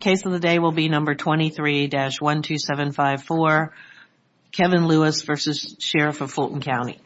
Case of the day will be number 23-12754, Kevin Lewis v. Sheriff of Fulton County.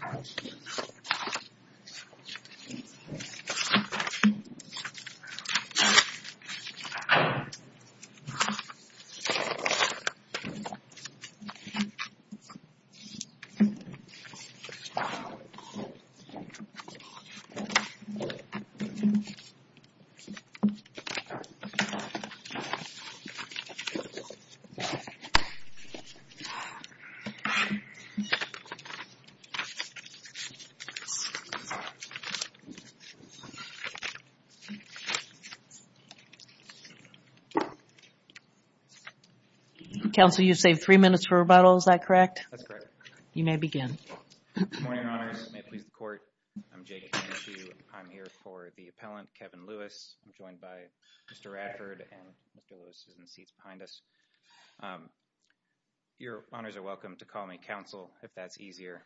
Council, you've saved three minutes for rebuttal. Is that correct? That's correct. You may begin. Good morning, Your Honors. May it please the Court, I'm Jake Kennedy. I'm here for the appellant, Kevin Lewis. I'm joined by Mr. Radford and Mr. Lewis is in the seats behind us. Your Honors are welcome to call me counsel if that's easier.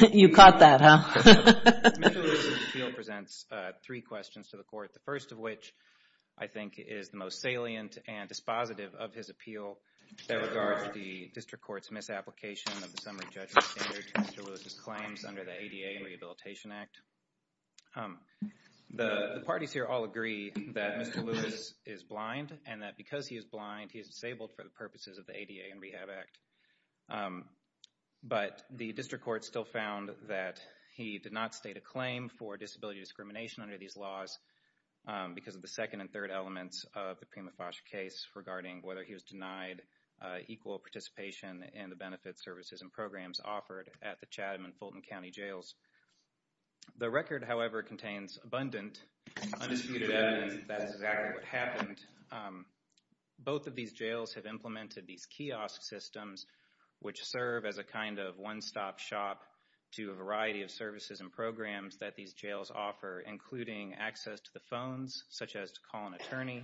You caught that, huh? Mr. Lewis' appeal presents three questions to the Court, the first of which I think is the most salient and dispositive of his appeal that regards the District Court's misapplication of the summary judgment standard to Mr. Lewis' claims under the ADA and Rehabilitation Act. The parties here all agree that Mr. Lewis is blind and that because he is blind, he is disabled for the purposes of the ADA and Rehab Act. But the District Court still found that he did not state a claim for disability discrimination under these laws because of the second and third elements of the Prima Fosch case regarding whether he was denied equal participation in the benefits, services, and programs offered at the Chatham and Fulton County Jails. The record, however, contains abundant, undisputed evidence that that is exactly what happened. Both of these jails have implemented these kiosk systems, which serve as a kind of one-stop shop to a variety of services and programs that these jails offer, including access to the phones, such as to call an attorney,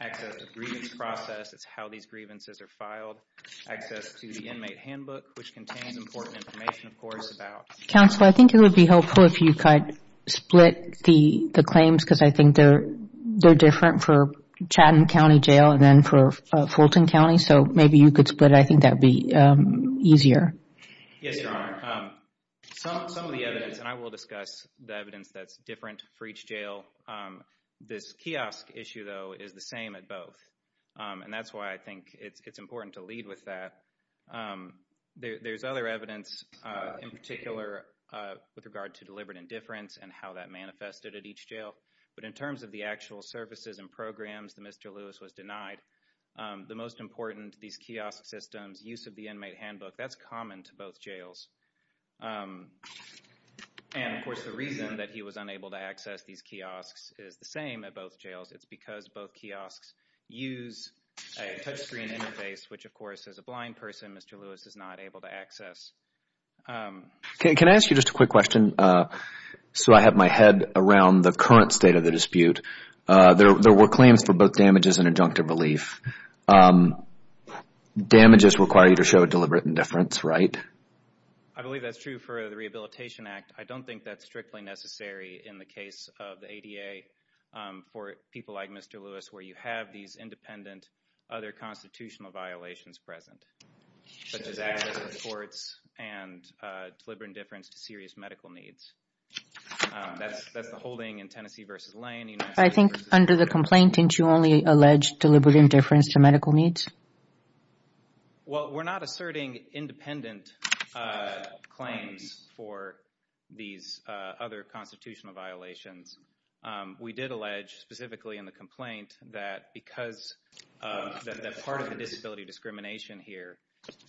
access to the grievance process, that's how these grievances are filed, access to the inmate handbook, which contains important information, of course, about... Counsel, I think it would be helpful if you could split the claims because I think they're different for Chatham County Jail and then for Fulton County, so maybe you could split it. I think that would be easier. Yes, Your Honor. Some of the evidence, and I will discuss the evidence that's different for each jail, this kiosk issue, though, is the same at both. And that's why I think it's important to lead with that. There's other evidence in particular with regard to deliberate indifference and how that manifested at each jail, but in terms of the actual services and programs that Mr. Lewis was denied, the most important, these kiosk systems, use of the inmate handbook, that's common to both jails. And, of course, the reason that he was unable to access these kiosks is the same at both jails. It's because both kiosks use a touchscreen interface, which, of course, as a blind person, Mr. Lewis is not able to access. Can I ask you just a quick question? So I have my head around the current state of the dispute. There were claims for both damages and adjunctive relief. Damages require you to show deliberate indifference, right? I believe that's true for the Rehabilitation Act. I don't think that's strictly necessary in the case of the ADA for people like Mr. Lewis, where you have these independent other constitutional violations present, such as access to courts and deliberate indifference to serious medical needs. That's the holding in Tennessee v. Lane. I think under the complaint, didn't you only allege deliberate indifference to medical needs? Well, we're not asserting independent claims for these other constitutional violations. We did allege, specifically in the complaint, that because part of the disability discrimination here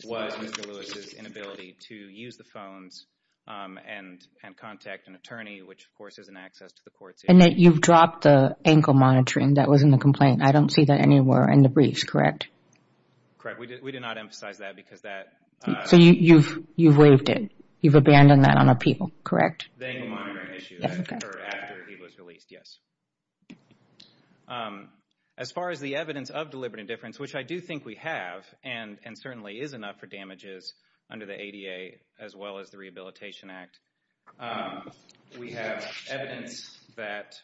was Mr. Lewis' inability to use the phones and contact an attorney, which, of course, isn't access to the courts. And you've dropped the ankle monitoring that was in the complaint. I don't see that anywhere in the briefs, correct? Correct. We did not emphasize that because that... So you've waived it. You've abandoned that on appeal, correct? The ankle monitoring issue, I deferred after he was released, yes. As far as the evidence of deliberate indifference, which I do think we have and certainly is enough for damages under the ADA, as well as the Rehabilitation Act, we have evidence that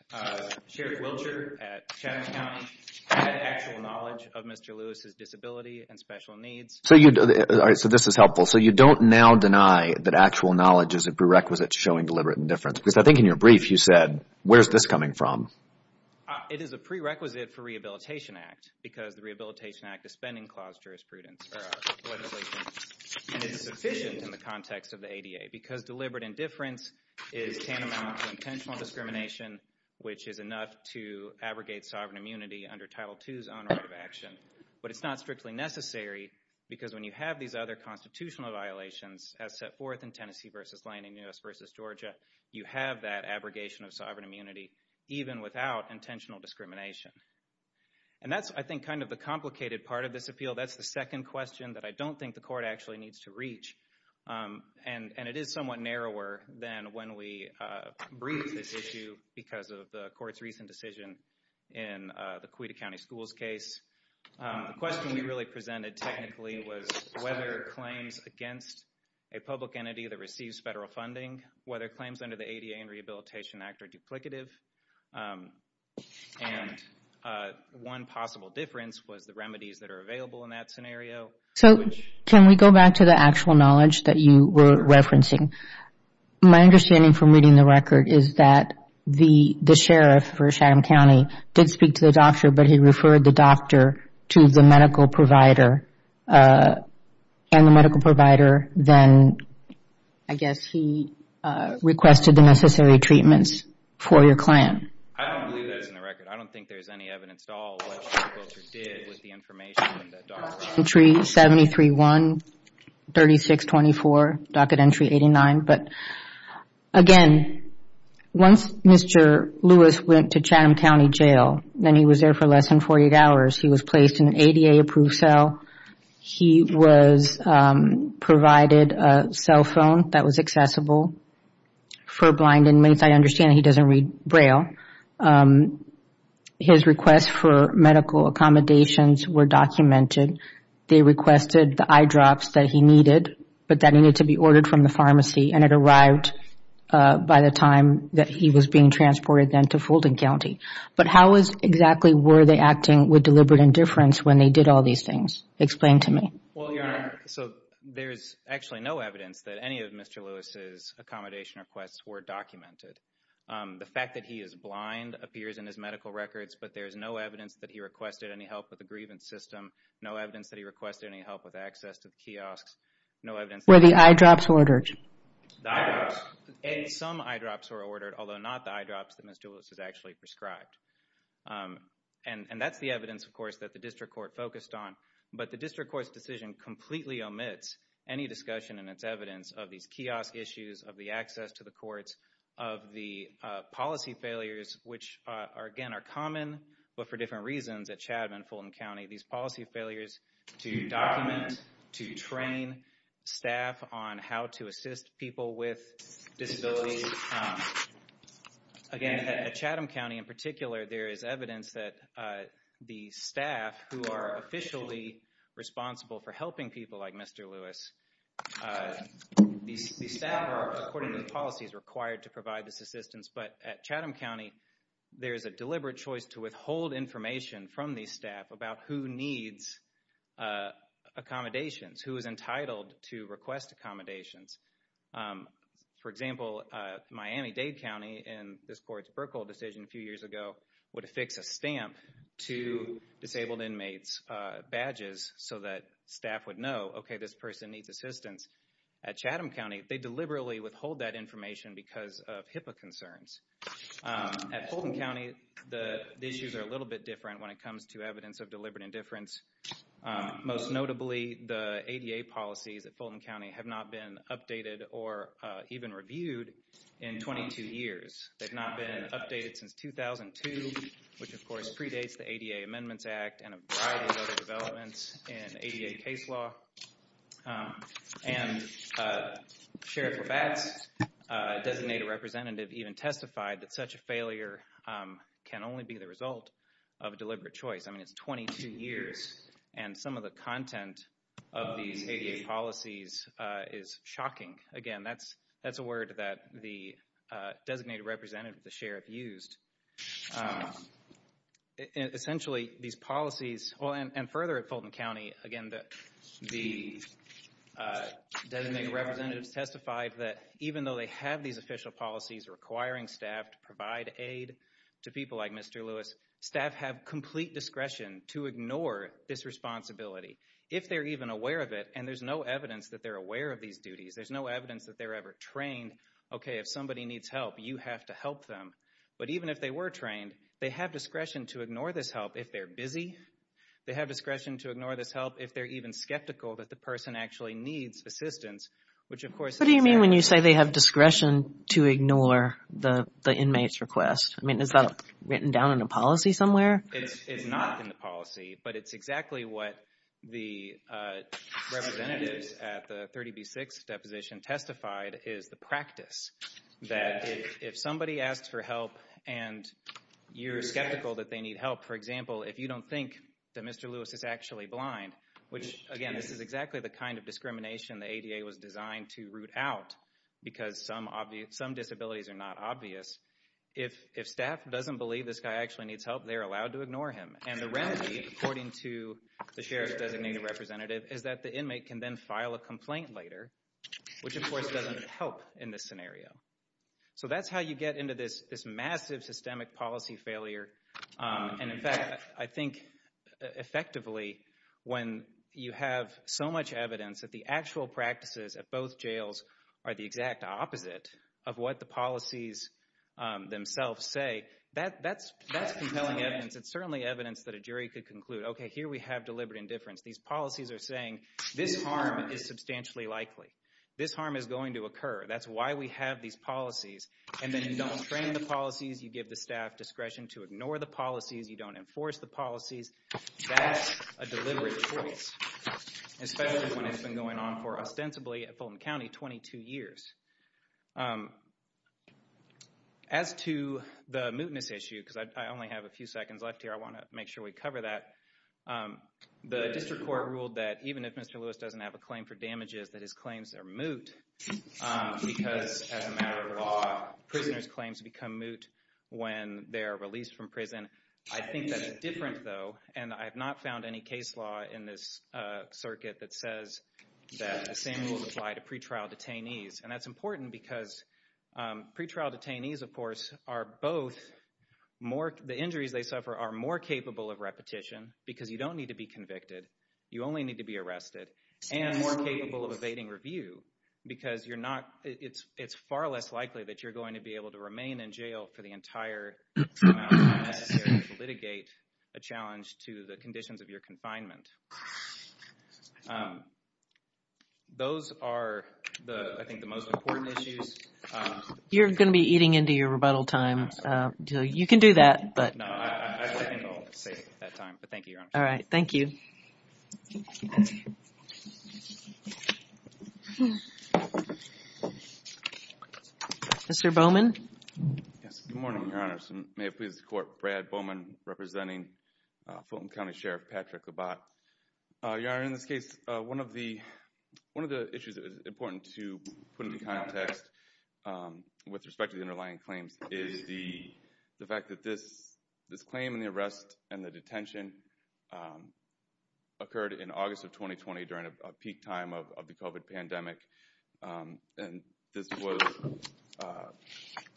Sheriff Wiltshire at Chatham County had actual knowledge of Mr. Lewis' disability and special needs. So this is helpful. So you don't now deny that actual knowledge is a prerequisite to showing deliberate indifference? Because I think in your brief you said, where's this coming from? It is a prerequisite for Rehabilitation Act because the Rehabilitation Act is spending clause jurisprudence. And it's sufficient in the context of the ADA because deliberate indifference is tantamount to intentional discrimination, which is enough to abrogate sovereign immunity under Title II's own right of action. But it's not strictly necessary because when you have these other constitutional violations as set forth in Tennessee v. Lanning, U.S. v. Georgia, you have that abrogation of sovereign immunity even without intentional discrimination. And that's, I think, kind of the complicated part of this appeal. That's the second question that I don't think the court actually needs to reach. And it is somewhat narrower than when we briefed this issue because of the court's recent decision in the Cuyahoga County Schools case. The question we really presented technically was whether claims against a public entity that receives federal funding, whether claims under the ADA and Rehabilitation Act are duplicative. And one possible difference was the remedies that are available in that scenario. So can we go back to the actual knowledge that you were referencing? My understanding from reading the record is that the sheriff for Chatham County did speak to the doctor, but he referred the doctor to the medical provider. And the medical provider then, I guess, he requested the necessary treatments for your client. I don't believe that's in the record. I don't think there's any evidence at all what the doctor did with the information that the doctor offered. Entry 73-1, 36-24, docket entry 89. But again, once Mr. Lewis went to Chatham County Jail, then he was there for less than 48 hours. He was placed in an ADA-approved cell. He was provided a cell phone that was accessible for blind inmates. I understand he doesn't read Braille. His requests for medical accommodations were documented. They requested the eye drops that he needed, but that needed to be ordered from the pharmacy, and it arrived by the time that he was being transported then to Fulton County. But how exactly were they acting with deliberate indifference when they did all these things? Explain to me. Well, Your Honor, so there's actually no evidence that any of Mr. Lewis's accommodation requests were documented. The fact that he is blind appears in his medical records, but there's no evidence that he requested any help with the grievance system, no evidence that he requested any help with access to the kiosks, no evidence that he… Were the eye drops ordered? The eye drops. Some eye drops were ordered, although not the eye drops that Mr. Lewis has actually prescribed. And that's the evidence, of course, that the district court focused on, but the district court's decision completely omits any discussion in its evidence of these kiosk issues, of the access to the courts, of the policy failures, which, again, are common, but for different reasons at Chatham and Fulton County, these policy failures to document, to train staff on how to assist people with disabilities. Again, at Chatham County in particular, there is evidence that the staff who are officially responsible for helping people like Mr. Lewis, these staff are, according to the policies, required to provide this assistance, but at Chatham County, there is a deliberate choice to withhold information from these staff about who needs accommodations, who is entitled to request accommodations. For example, Miami-Dade County in this court's Burkle decision a few years ago would affix a stamp to disabled inmates' badges so that staff would know, okay, this person needs assistance. At Chatham County, they deliberately withhold that information because of HIPAA concerns. At Fulton County, the issues are a little bit different when it comes to evidence of deliberate indifference. Most notably, the ADA policies at Fulton County have not been updated or even reviewed in 22 years. They've not been updated since 2002, which, of course, predates the ADA Amendments Act and a variety of other developments in ADA case law. And Sheriff Labat's designated representative even testified that such a failure can only be the result of a deliberate choice. I mean, it's 22 years, and some of the content of these ADA policies is shocking. Again, that's a word that the designated representative of the Sheriff used. Essentially, these policies, and further at Fulton County, again, the designated representatives testified that even though they have these official policies requiring staff to provide aid to people like Mr. Lewis, staff have complete discretion to ignore this responsibility if they're even aware of it, and there's no evidence that they're aware of these duties. There's no evidence that they're ever trained, okay, if somebody needs help, you have to help them. But even if they were trained, they have discretion to ignore this help if they're busy. They have discretion to ignore this help if they're even skeptical that the person actually needs assistance, which, of course... What do you mean when you say they have discretion to ignore the inmate's request? I mean, is that written down in a policy somewhere? It's not in the policy, but it's exactly what the representatives at the 30B-6 deposition testified is the practice that if somebody asks for help and you're skeptical that they need help, for example, if you don't think that Mr. Lewis is actually blind, which, again, this is exactly the kind of discrimination the ADA was designed to root out because some disabilities are not obvious, if staff doesn't believe this guy actually needs help, they're allowed to ignore him. And the remedy, according to the Sheriff's designated representative, is that the inmate can then file a complaint later, which, of course, doesn't help in this scenario. So that's how you get into this massive systemic policy failure. And, in fact, I think effectively when you have so much evidence that the actual practices at both jails are the exact opposite of what the policies themselves say, that's compelling evidence. It's certainly evidence that a jury could conclude, okay, here we have deliberate indifference. These policies are saying this harm is substantially likely. This harm is going to occur. That's why we have these policies. And then you don't train the policies, you give the staff discretion to ignore the policies, you don't enforce the policies. That's a deliberate choice, especially when it's been going on for, ostensibly, at Fulton County 22 years. As to the mootness issue, because I only have a few seconds left here, I want to make sure we cover that. The district court ruled that even if Mr. Lewis doesn't have a claim for damages that his claims are moot because, as a matter of law, prisoners' claims become moot when they are released from prison. I think that's different, though, and I have not found any case law in this circuit that says that the same rule applies to pretrial detainees. And that's important because pretrial detainees, of course, are both more – because you don't need to be convicted, you only need to be arrested, and more capable of evading review because you're not – it's far less likely that you're going to be able to remain in jail for the entire amount of time necessary to litigate a challenge to the conditions of your confinement. Those are, I think, the most important issues. You're going to be eating into your rebuttal time. You can do that, but – No, I think I'll save that time, but thank you, Your Honor. All right. Thank you. Mr. Bowman? Yes. Good morning, Your Honor. May it please the Court. Brad Bowman representing Fulton County Sheriff Patrick Labatt. Your Honor, in this case, one of the issues that is important to put into context with respect to the underlying claims is the fact that this claim and the arrest and the detention occurred in August of 2020 during a peak time of the COVID pandemic. And this was –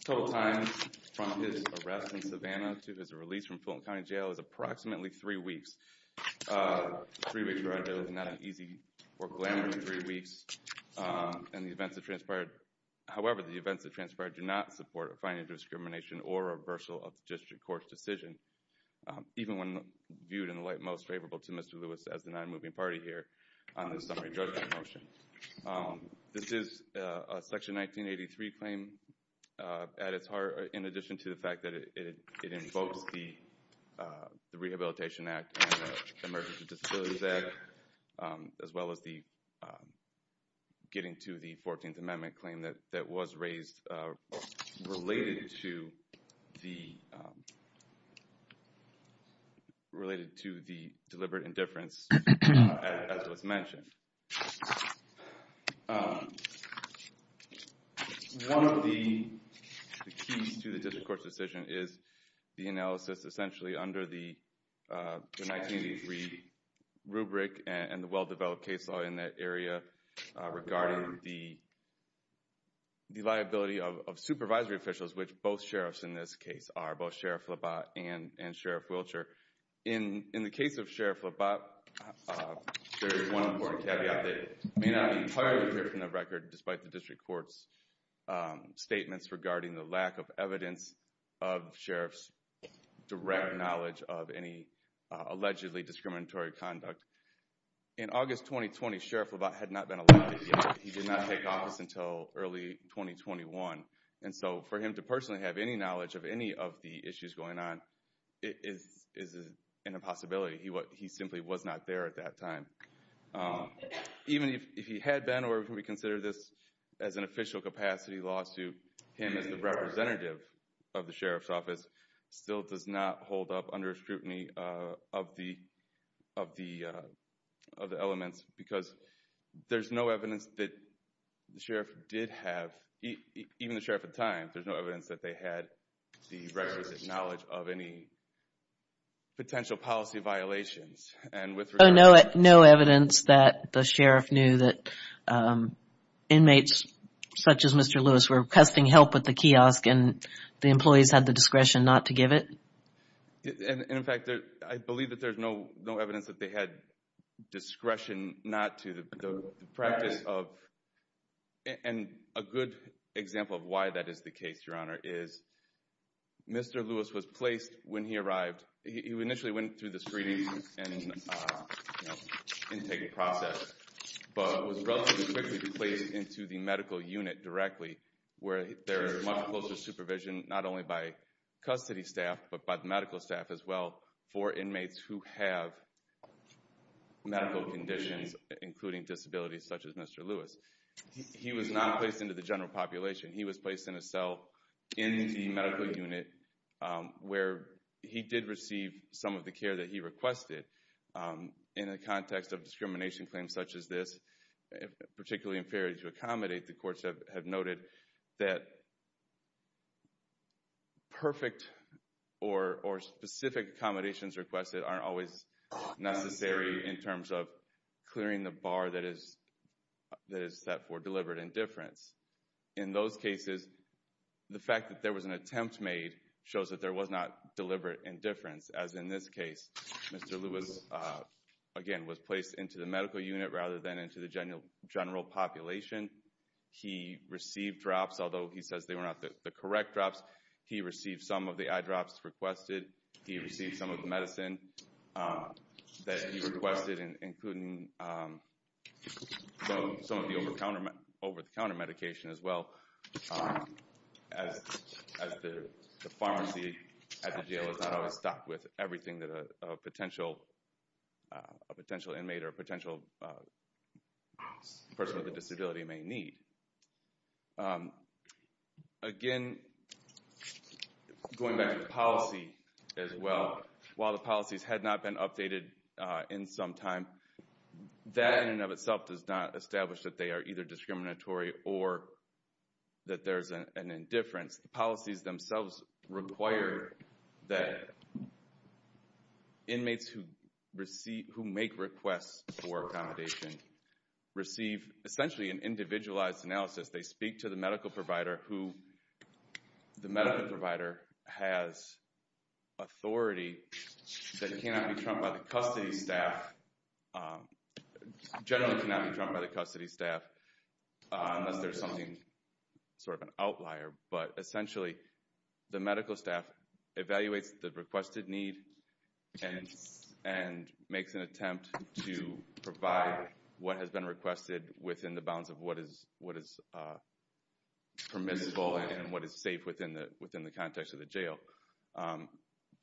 total time from his arrest in Savannah to his release from Fulton County Jail is approximately three weeks. Three weeks, Your Honor, is not an easy or glamorous three weeks. And the events that transpired – however, the events that transpired do not support a finding of discrimination or reversal of the district court's decision, even when viewed in the light most favorable to Mr. Lewis as the non-moving party here on this summary judgment motion. This is a Section 1983 claim at its heart, in addition to the fact that it invokes both the Rehabilitation Act and the Emergency Disabilities Act, as well as the getting to the 14th Amendment claim that was raised related to the – related to the deliberate indifference as was mentioned. One of the keys to the district court's decision is the analysis essentially under the 1983 rubric and the well-developed case law in that area regarding the liability of supervisory officials, which both sheriffs in this case are, both Sheriff Labatt and Sheriff Wiltshire. In the case of Sheriff Labatt, there is one important caveat that may not be entirely clear from the record despite the district court's statements regarding the lack of evidence of sheriff's direct knowledge of any allegedly discriminatory conduct. In August 2020, Sheriff Labatt had not been elected yet. He did not take office until early 2021, and so for him to personally have any knowledge of any of the issues going on is an impossibility. He simply was not there at that time. Even if he had been, or if we consider this as an official capacity lawsuit, him as the representative of the sheriff's office still does not hold up under scrutiny of the elements because there's no evidence that the sheriff did have – even the sheriff at the time, there's no evidence that they had the requisite knowledge of any potential policy violations. No evidence that the sheriff knew that inmates such as Mr. Lewis were requesting help with the kiosk and the employees had the discretion not to give it? In fact, I believe that there's no evidence that they had discretion not to. The practice of – and a good example of why that is the case, Your Honor, is Mr. Lewis was placed when he arrived. He initially went through the screening and intake process, but was relatively quickly placed into the medical unit directly where there is much closer supervision not only by custody staff but by the medical staff as well for inmates who have medical conditions including disabilities such as Mr. Lewis. He was not placed into the general population. He was placed in a cell in the medical unit where he did receive some of the care that he requested. In the context of discrimination claims such as this, particularly in failure to accommodate, the courts have noted that perfect or specific accommodations requested aren't always necessary in terms of clearing the bar that is set for deliberate indifference. In those cases, the fact that there was an attempt made shows that there was not deliberate indifference as in this case Mr. Lewis, again, was placed into the medical unit rather than into the general population. He received drops although he says they were not the correct drops. He received some of the eye drops requested. He received some of the medicine that he requested including some of the over-the-counter medication as well as the pharmacy at the jail is not always stocked with everything that a potential inmate or a potential person with a disability may need. Again, going back to the policy as well, while the policies had not been updated in some time, that in and of itself does not establish that they are either discriminatory or that there is an indifference. The policies themselves require that inmates who make requests for accommodation receive essentially an individualized analysis. They speak to the medical provider who the medical provider has authority that cannot be trumped by the custody staff, generally cannot be trumped by the custody staff unless there is something, sort of an outlier, but essentially the medical staff evaluates the requested need and makes an attempt to provide what has been requested within the bounds of what is permissible and what is safe within the context of the jail.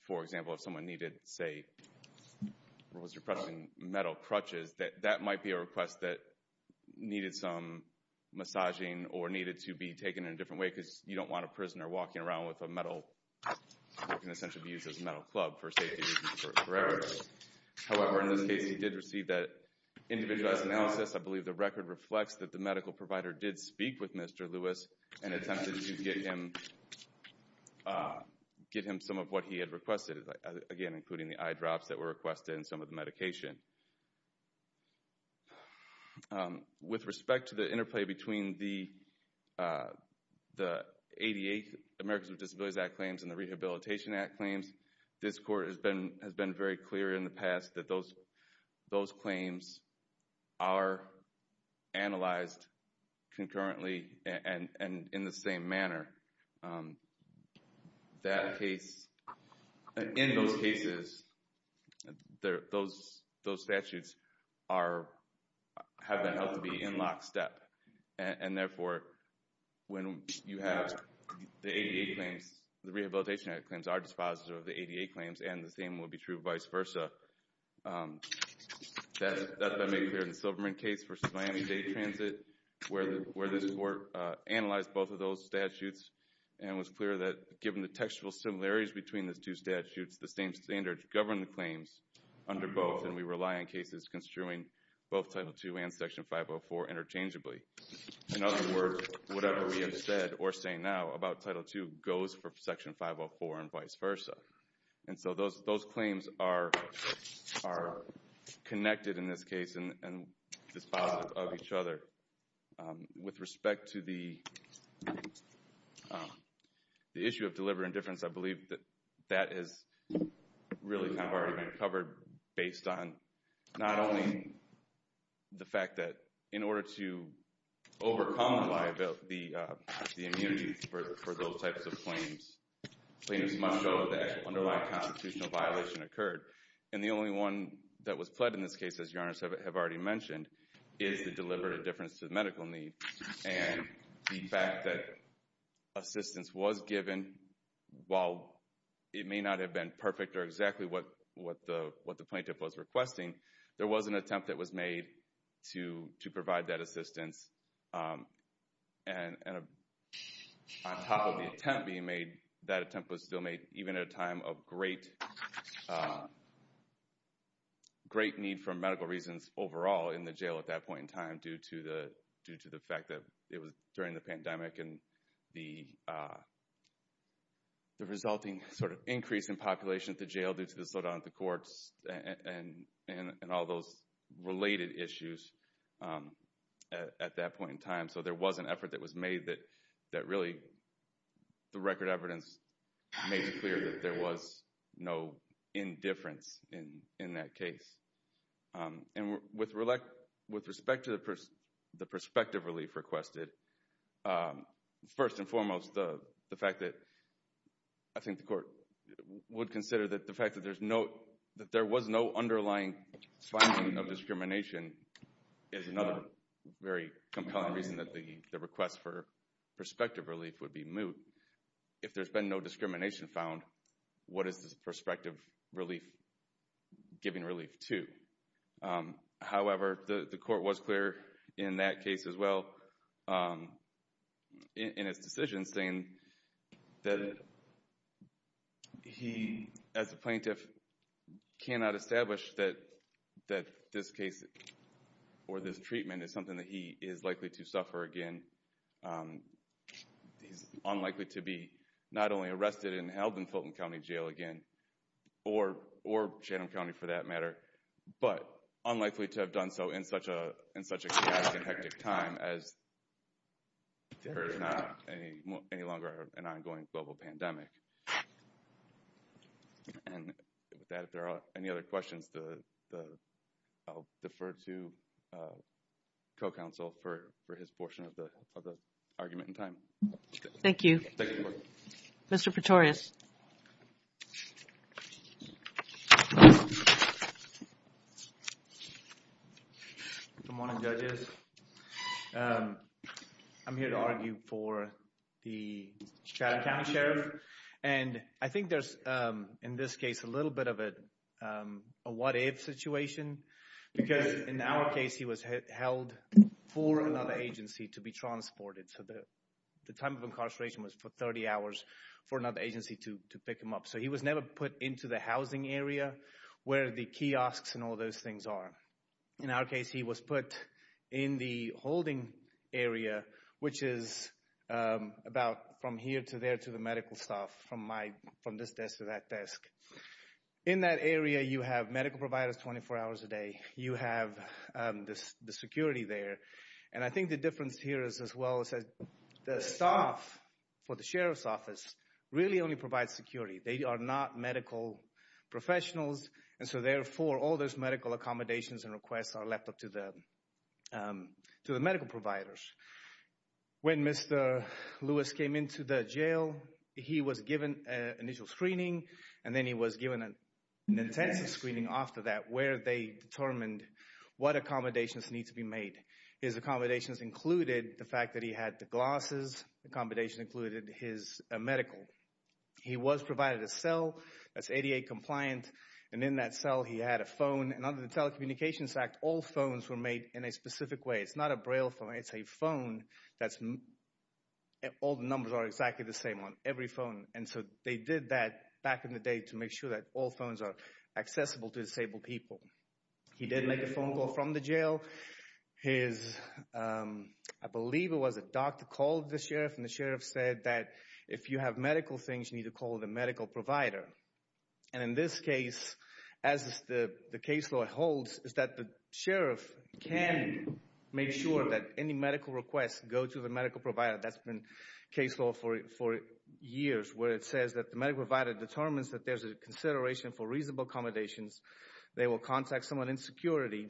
For example, if someone needed, say, metal crutches, that might be a request that needed some massaging or needed to be taken in a different way because you don't want a prisoner walking around with a metal, which can essentially be used as a metal club for safety reasons forever. However, in this case, he did receive that individualized analysis. I believe the record reflects that the medical provider did speak with Mr. Lewis and attempted to get him some of what he had requested, again, including the eye drops that were requested and some of the medication. With respect to the interplay between the ADA, Americans with Disabilities Act claims, and the Rehabilitation Act claims, this court has been very clear in the past that those claims are analyzed concurrently and in the same manner. In those cases, those statutes have been held to be in lockstep. Therefore, when you have the ADA claims, the Rehabilitation Act claims are dispositive of the ADA claims and the same will be true vice versa. That's been made clear in the Silverman case versus Miami-Dade Transit, where this court analyzed both of those statutes and was clear that given the textual similarities between the two statutes, the same standards govern the claims under both, and we rely on cases construing both Title II and Section 504 interchangeably. In other words, whatever we have said or say now about Title II goes for Section 504 and vice versa. Those claims are connected in this case and dispositive of each other. With respect to the issue of deliberate indifference, I believe that that has really kind of already been covered based on not only the fact that in order to overcome the immunity for those types of claims, plaintiffs must know that an underlying constitutional violation occurred, and the only one that was pled in this case, as Your Honor has already mentioned, is the deliberate indifference to the medical need and the fact that assistance was given. While it may not have been perfect or exactly what the plaintiff was requesting, there was an attempt that was made to provide that assistance, and on top of the attempt being made, that attempt was still made even at a time of great need for medical reasons overall in the jail at that point in time due to the fact that it was during the pandemic and the resulting sort of increase in population at the jail due to the slowdown at the courts and all those related issues at that point in time. So there was an effort that was made that really, through record evidence, made it clear that there was no indifference in that case. And with respect to the prospective relief requested, first and foremost, the fact that I think the court would consider that the fact that there was no underlying finding of discrimination is another very compelling reason that the request for prospective relief would be moot. If there's been no discrimination found, what is the prospective relief giving relief to? However, the court was clear in that case as well, in its decision, saying that he, as a plaintiff, cannot establish that this case or this treatment is something that he is likely to suffer again. He's unlikely to be not only arrested and held in Fulton County Jail again, or Chatham County for that matter, but unlikely to have done so in such a chaotic and hectic time as there is not any longer an ongoing global pandemic. And with that, if there are any other questions, I'll defer to co-counsel for his portion of the argument in time. Thank you. Mr. Pretorius. Good morning, judges. I'm here to argue for the Chatham County Sheriff. And I think there's, in this case, a little bit of a what-if situation because in our case, he was held for another agency to be transported. So the time of incarceration was for 30 hours for another agency to pick him up. So he was never put into the housing area where the kiosks and all those things are. In our case, he was put in the holding area, which is about from here to there to the medical staff, from this desk to that desk. In that area, you have medical providers 24 hours a day. You have the security there. And I think the difference here is as well is that the staff for the sheriff's office really only provides security. They are not medical professionals. And so therefore, all those medical accommodations and requests are left up to the medical providers. When Mr. Lewis came into the jail, he was given initial screening. And then he was given an intensive screening after that where they determined what accommodations need to be made. His accommodations included the fact that he had the glasses. The accommodations included his medical. He was provided a cell that's ADA compliant. And in that cell, he had a phone. And under the Telecommunications Act, all phones were made in a specific way. It's not a Braille phone. It's a phone that's all the numbers are exactly the same on every phone. And so they did that back in the day to make sure that all phones are accessible to disabled people. He did make a phone call from the jail. His, I believe it was a doctor, called the sheriff. And the sheriff said that if you have medical things, you need to call the medical provider. And in this case, as the case law holds, is that the sheriff can make sure that any medical requests go to the medical provider. That's been case law for years where it says that the medical provider determines that there's a consideration for reasonable accommodations. They will contact someone in security,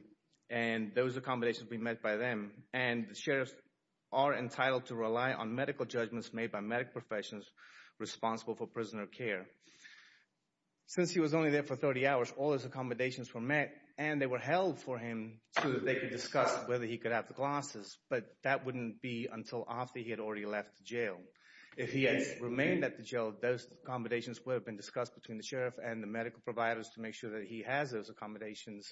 and those accommodations will be met by them. And the sheriffs are entitled to rely on medical judgments made by medical professionals responsible for prisoner care. Since he was only there for 30 hours, all his accommodations were met. And they were held for him so that they could discuss whether he could have the glasses. But that wouldn't be until after he had already left jail. If he had remained at the jail, those accommodations would have been discussed between the sheriff and the medical providers to make sure that he has those accommodations.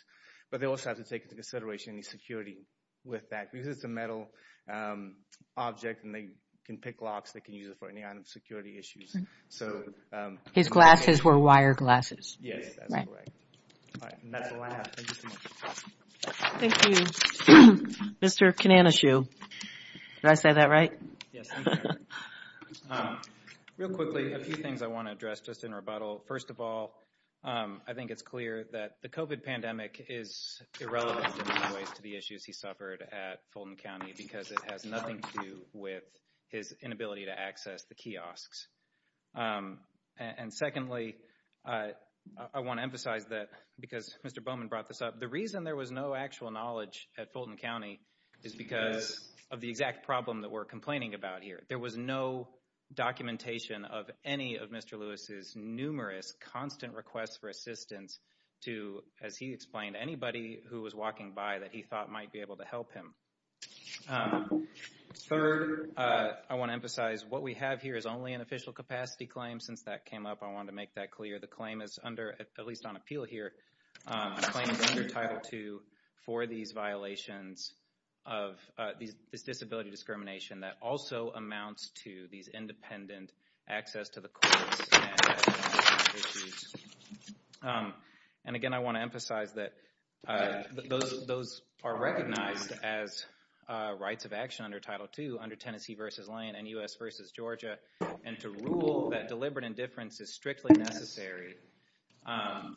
But they also have to take into consideration any security with that. Because it's a metal object, and they can pick locks. They can use it for any kind of security issues. So... His glasses were wire glasses. Yes, that's correct. All right. And that's all I have. Thank you so much for talking. Thank you. Mr. Kananeshu, did I say that right? Yes, I'm sorry. Real quickly, a few things I want to address just in rebuttal. First of all, I think it's clear that the COVID pandemic is irrelevant in many ways to the issues he suffered at Fulton County because it has nothing to do with his inability to access the kiosks. And secondly, I want to emphasize that because Mr. Bowman brought this up, the reason there was no actual knowledge at Fulton County is because of the exact problem that we're complaining about here. There was no documentation of any of Mr. Lewis's numerous constant requests for assistance to, as he explained, anybody who was walking by that he thought might be able to help him. Third, I want to emphasize what we have here is only an official capacity claim. Since that came up, I wanted to make that clear. The claim is under, at least on appeal here, the claim is under Title II for these violations of this disability discrimination that also amounts to these independent access to the courts and issues. And again, I want to emphasize that those are recognized as rights of action under Title II under Tennessee v. Lane and U.S. v. Georgia. And to rule that deliberate indifference is strictly necessary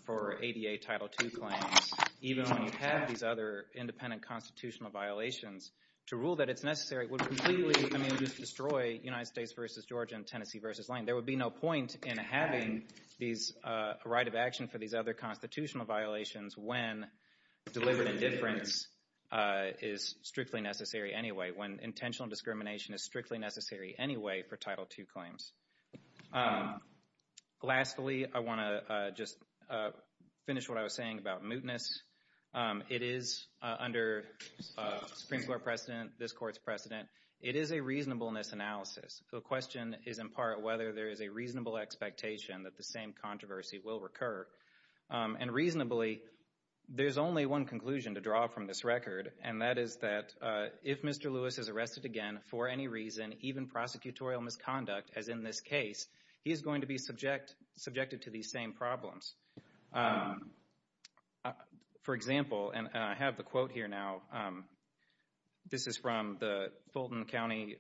for ADA Title II claims, even when you have these other independent constitutional violations, to rule that it's necessary would completely destroy United States v. Georgia and Tennessee v. Lane. There would be no point in having a right of action for these other constitutional violations when deliberate indifference is strictly necessary anyway, when intentional discrimination is strictly necessary anyway for Title II claims. Lastly, I want to just finish what I was saying about mootness. It is under Supreme Court precedent, this court's precedent. It is a reasonableness analysis. The question is, in part, whether there is a reasonable expectation that the same controversy will recur. And reasonably, there's only one conclusion to draw from this record, and that is that if Mr. Lewis is arrested again for any reason, even prosecutorial misconduct, as in this case, he is going to be subjected to these same problems. For example, and I have the quote here now. This is from the Fulton County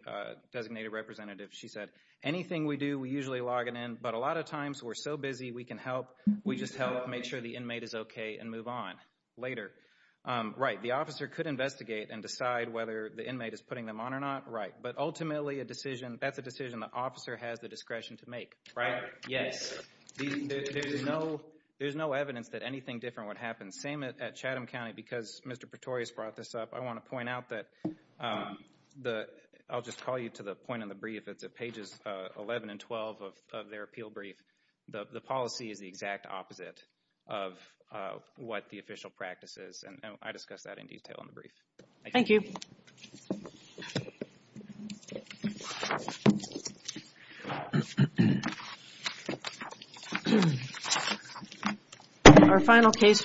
designated representative. She said, anything we do, we usually log it in, but a lot of times we're so busy we can help. We just help make sure the inmate is okay and move on later. Right, the officer could investigate and decide whether the inmate is putting them on or not, right. But ultimately, that's a decision the officer has the discretion to make, right? Yes. There's no evidence that anything different would happen. Same at Chatham County, because Mr. Pretorius brought this up. I want to point out that I'll just call you to the point in the brief. It's at pages 11 and 12 of their appeal brief. The policy is the exact opposite of what the official practice is. I discussed that in detail in the brief. Thank you.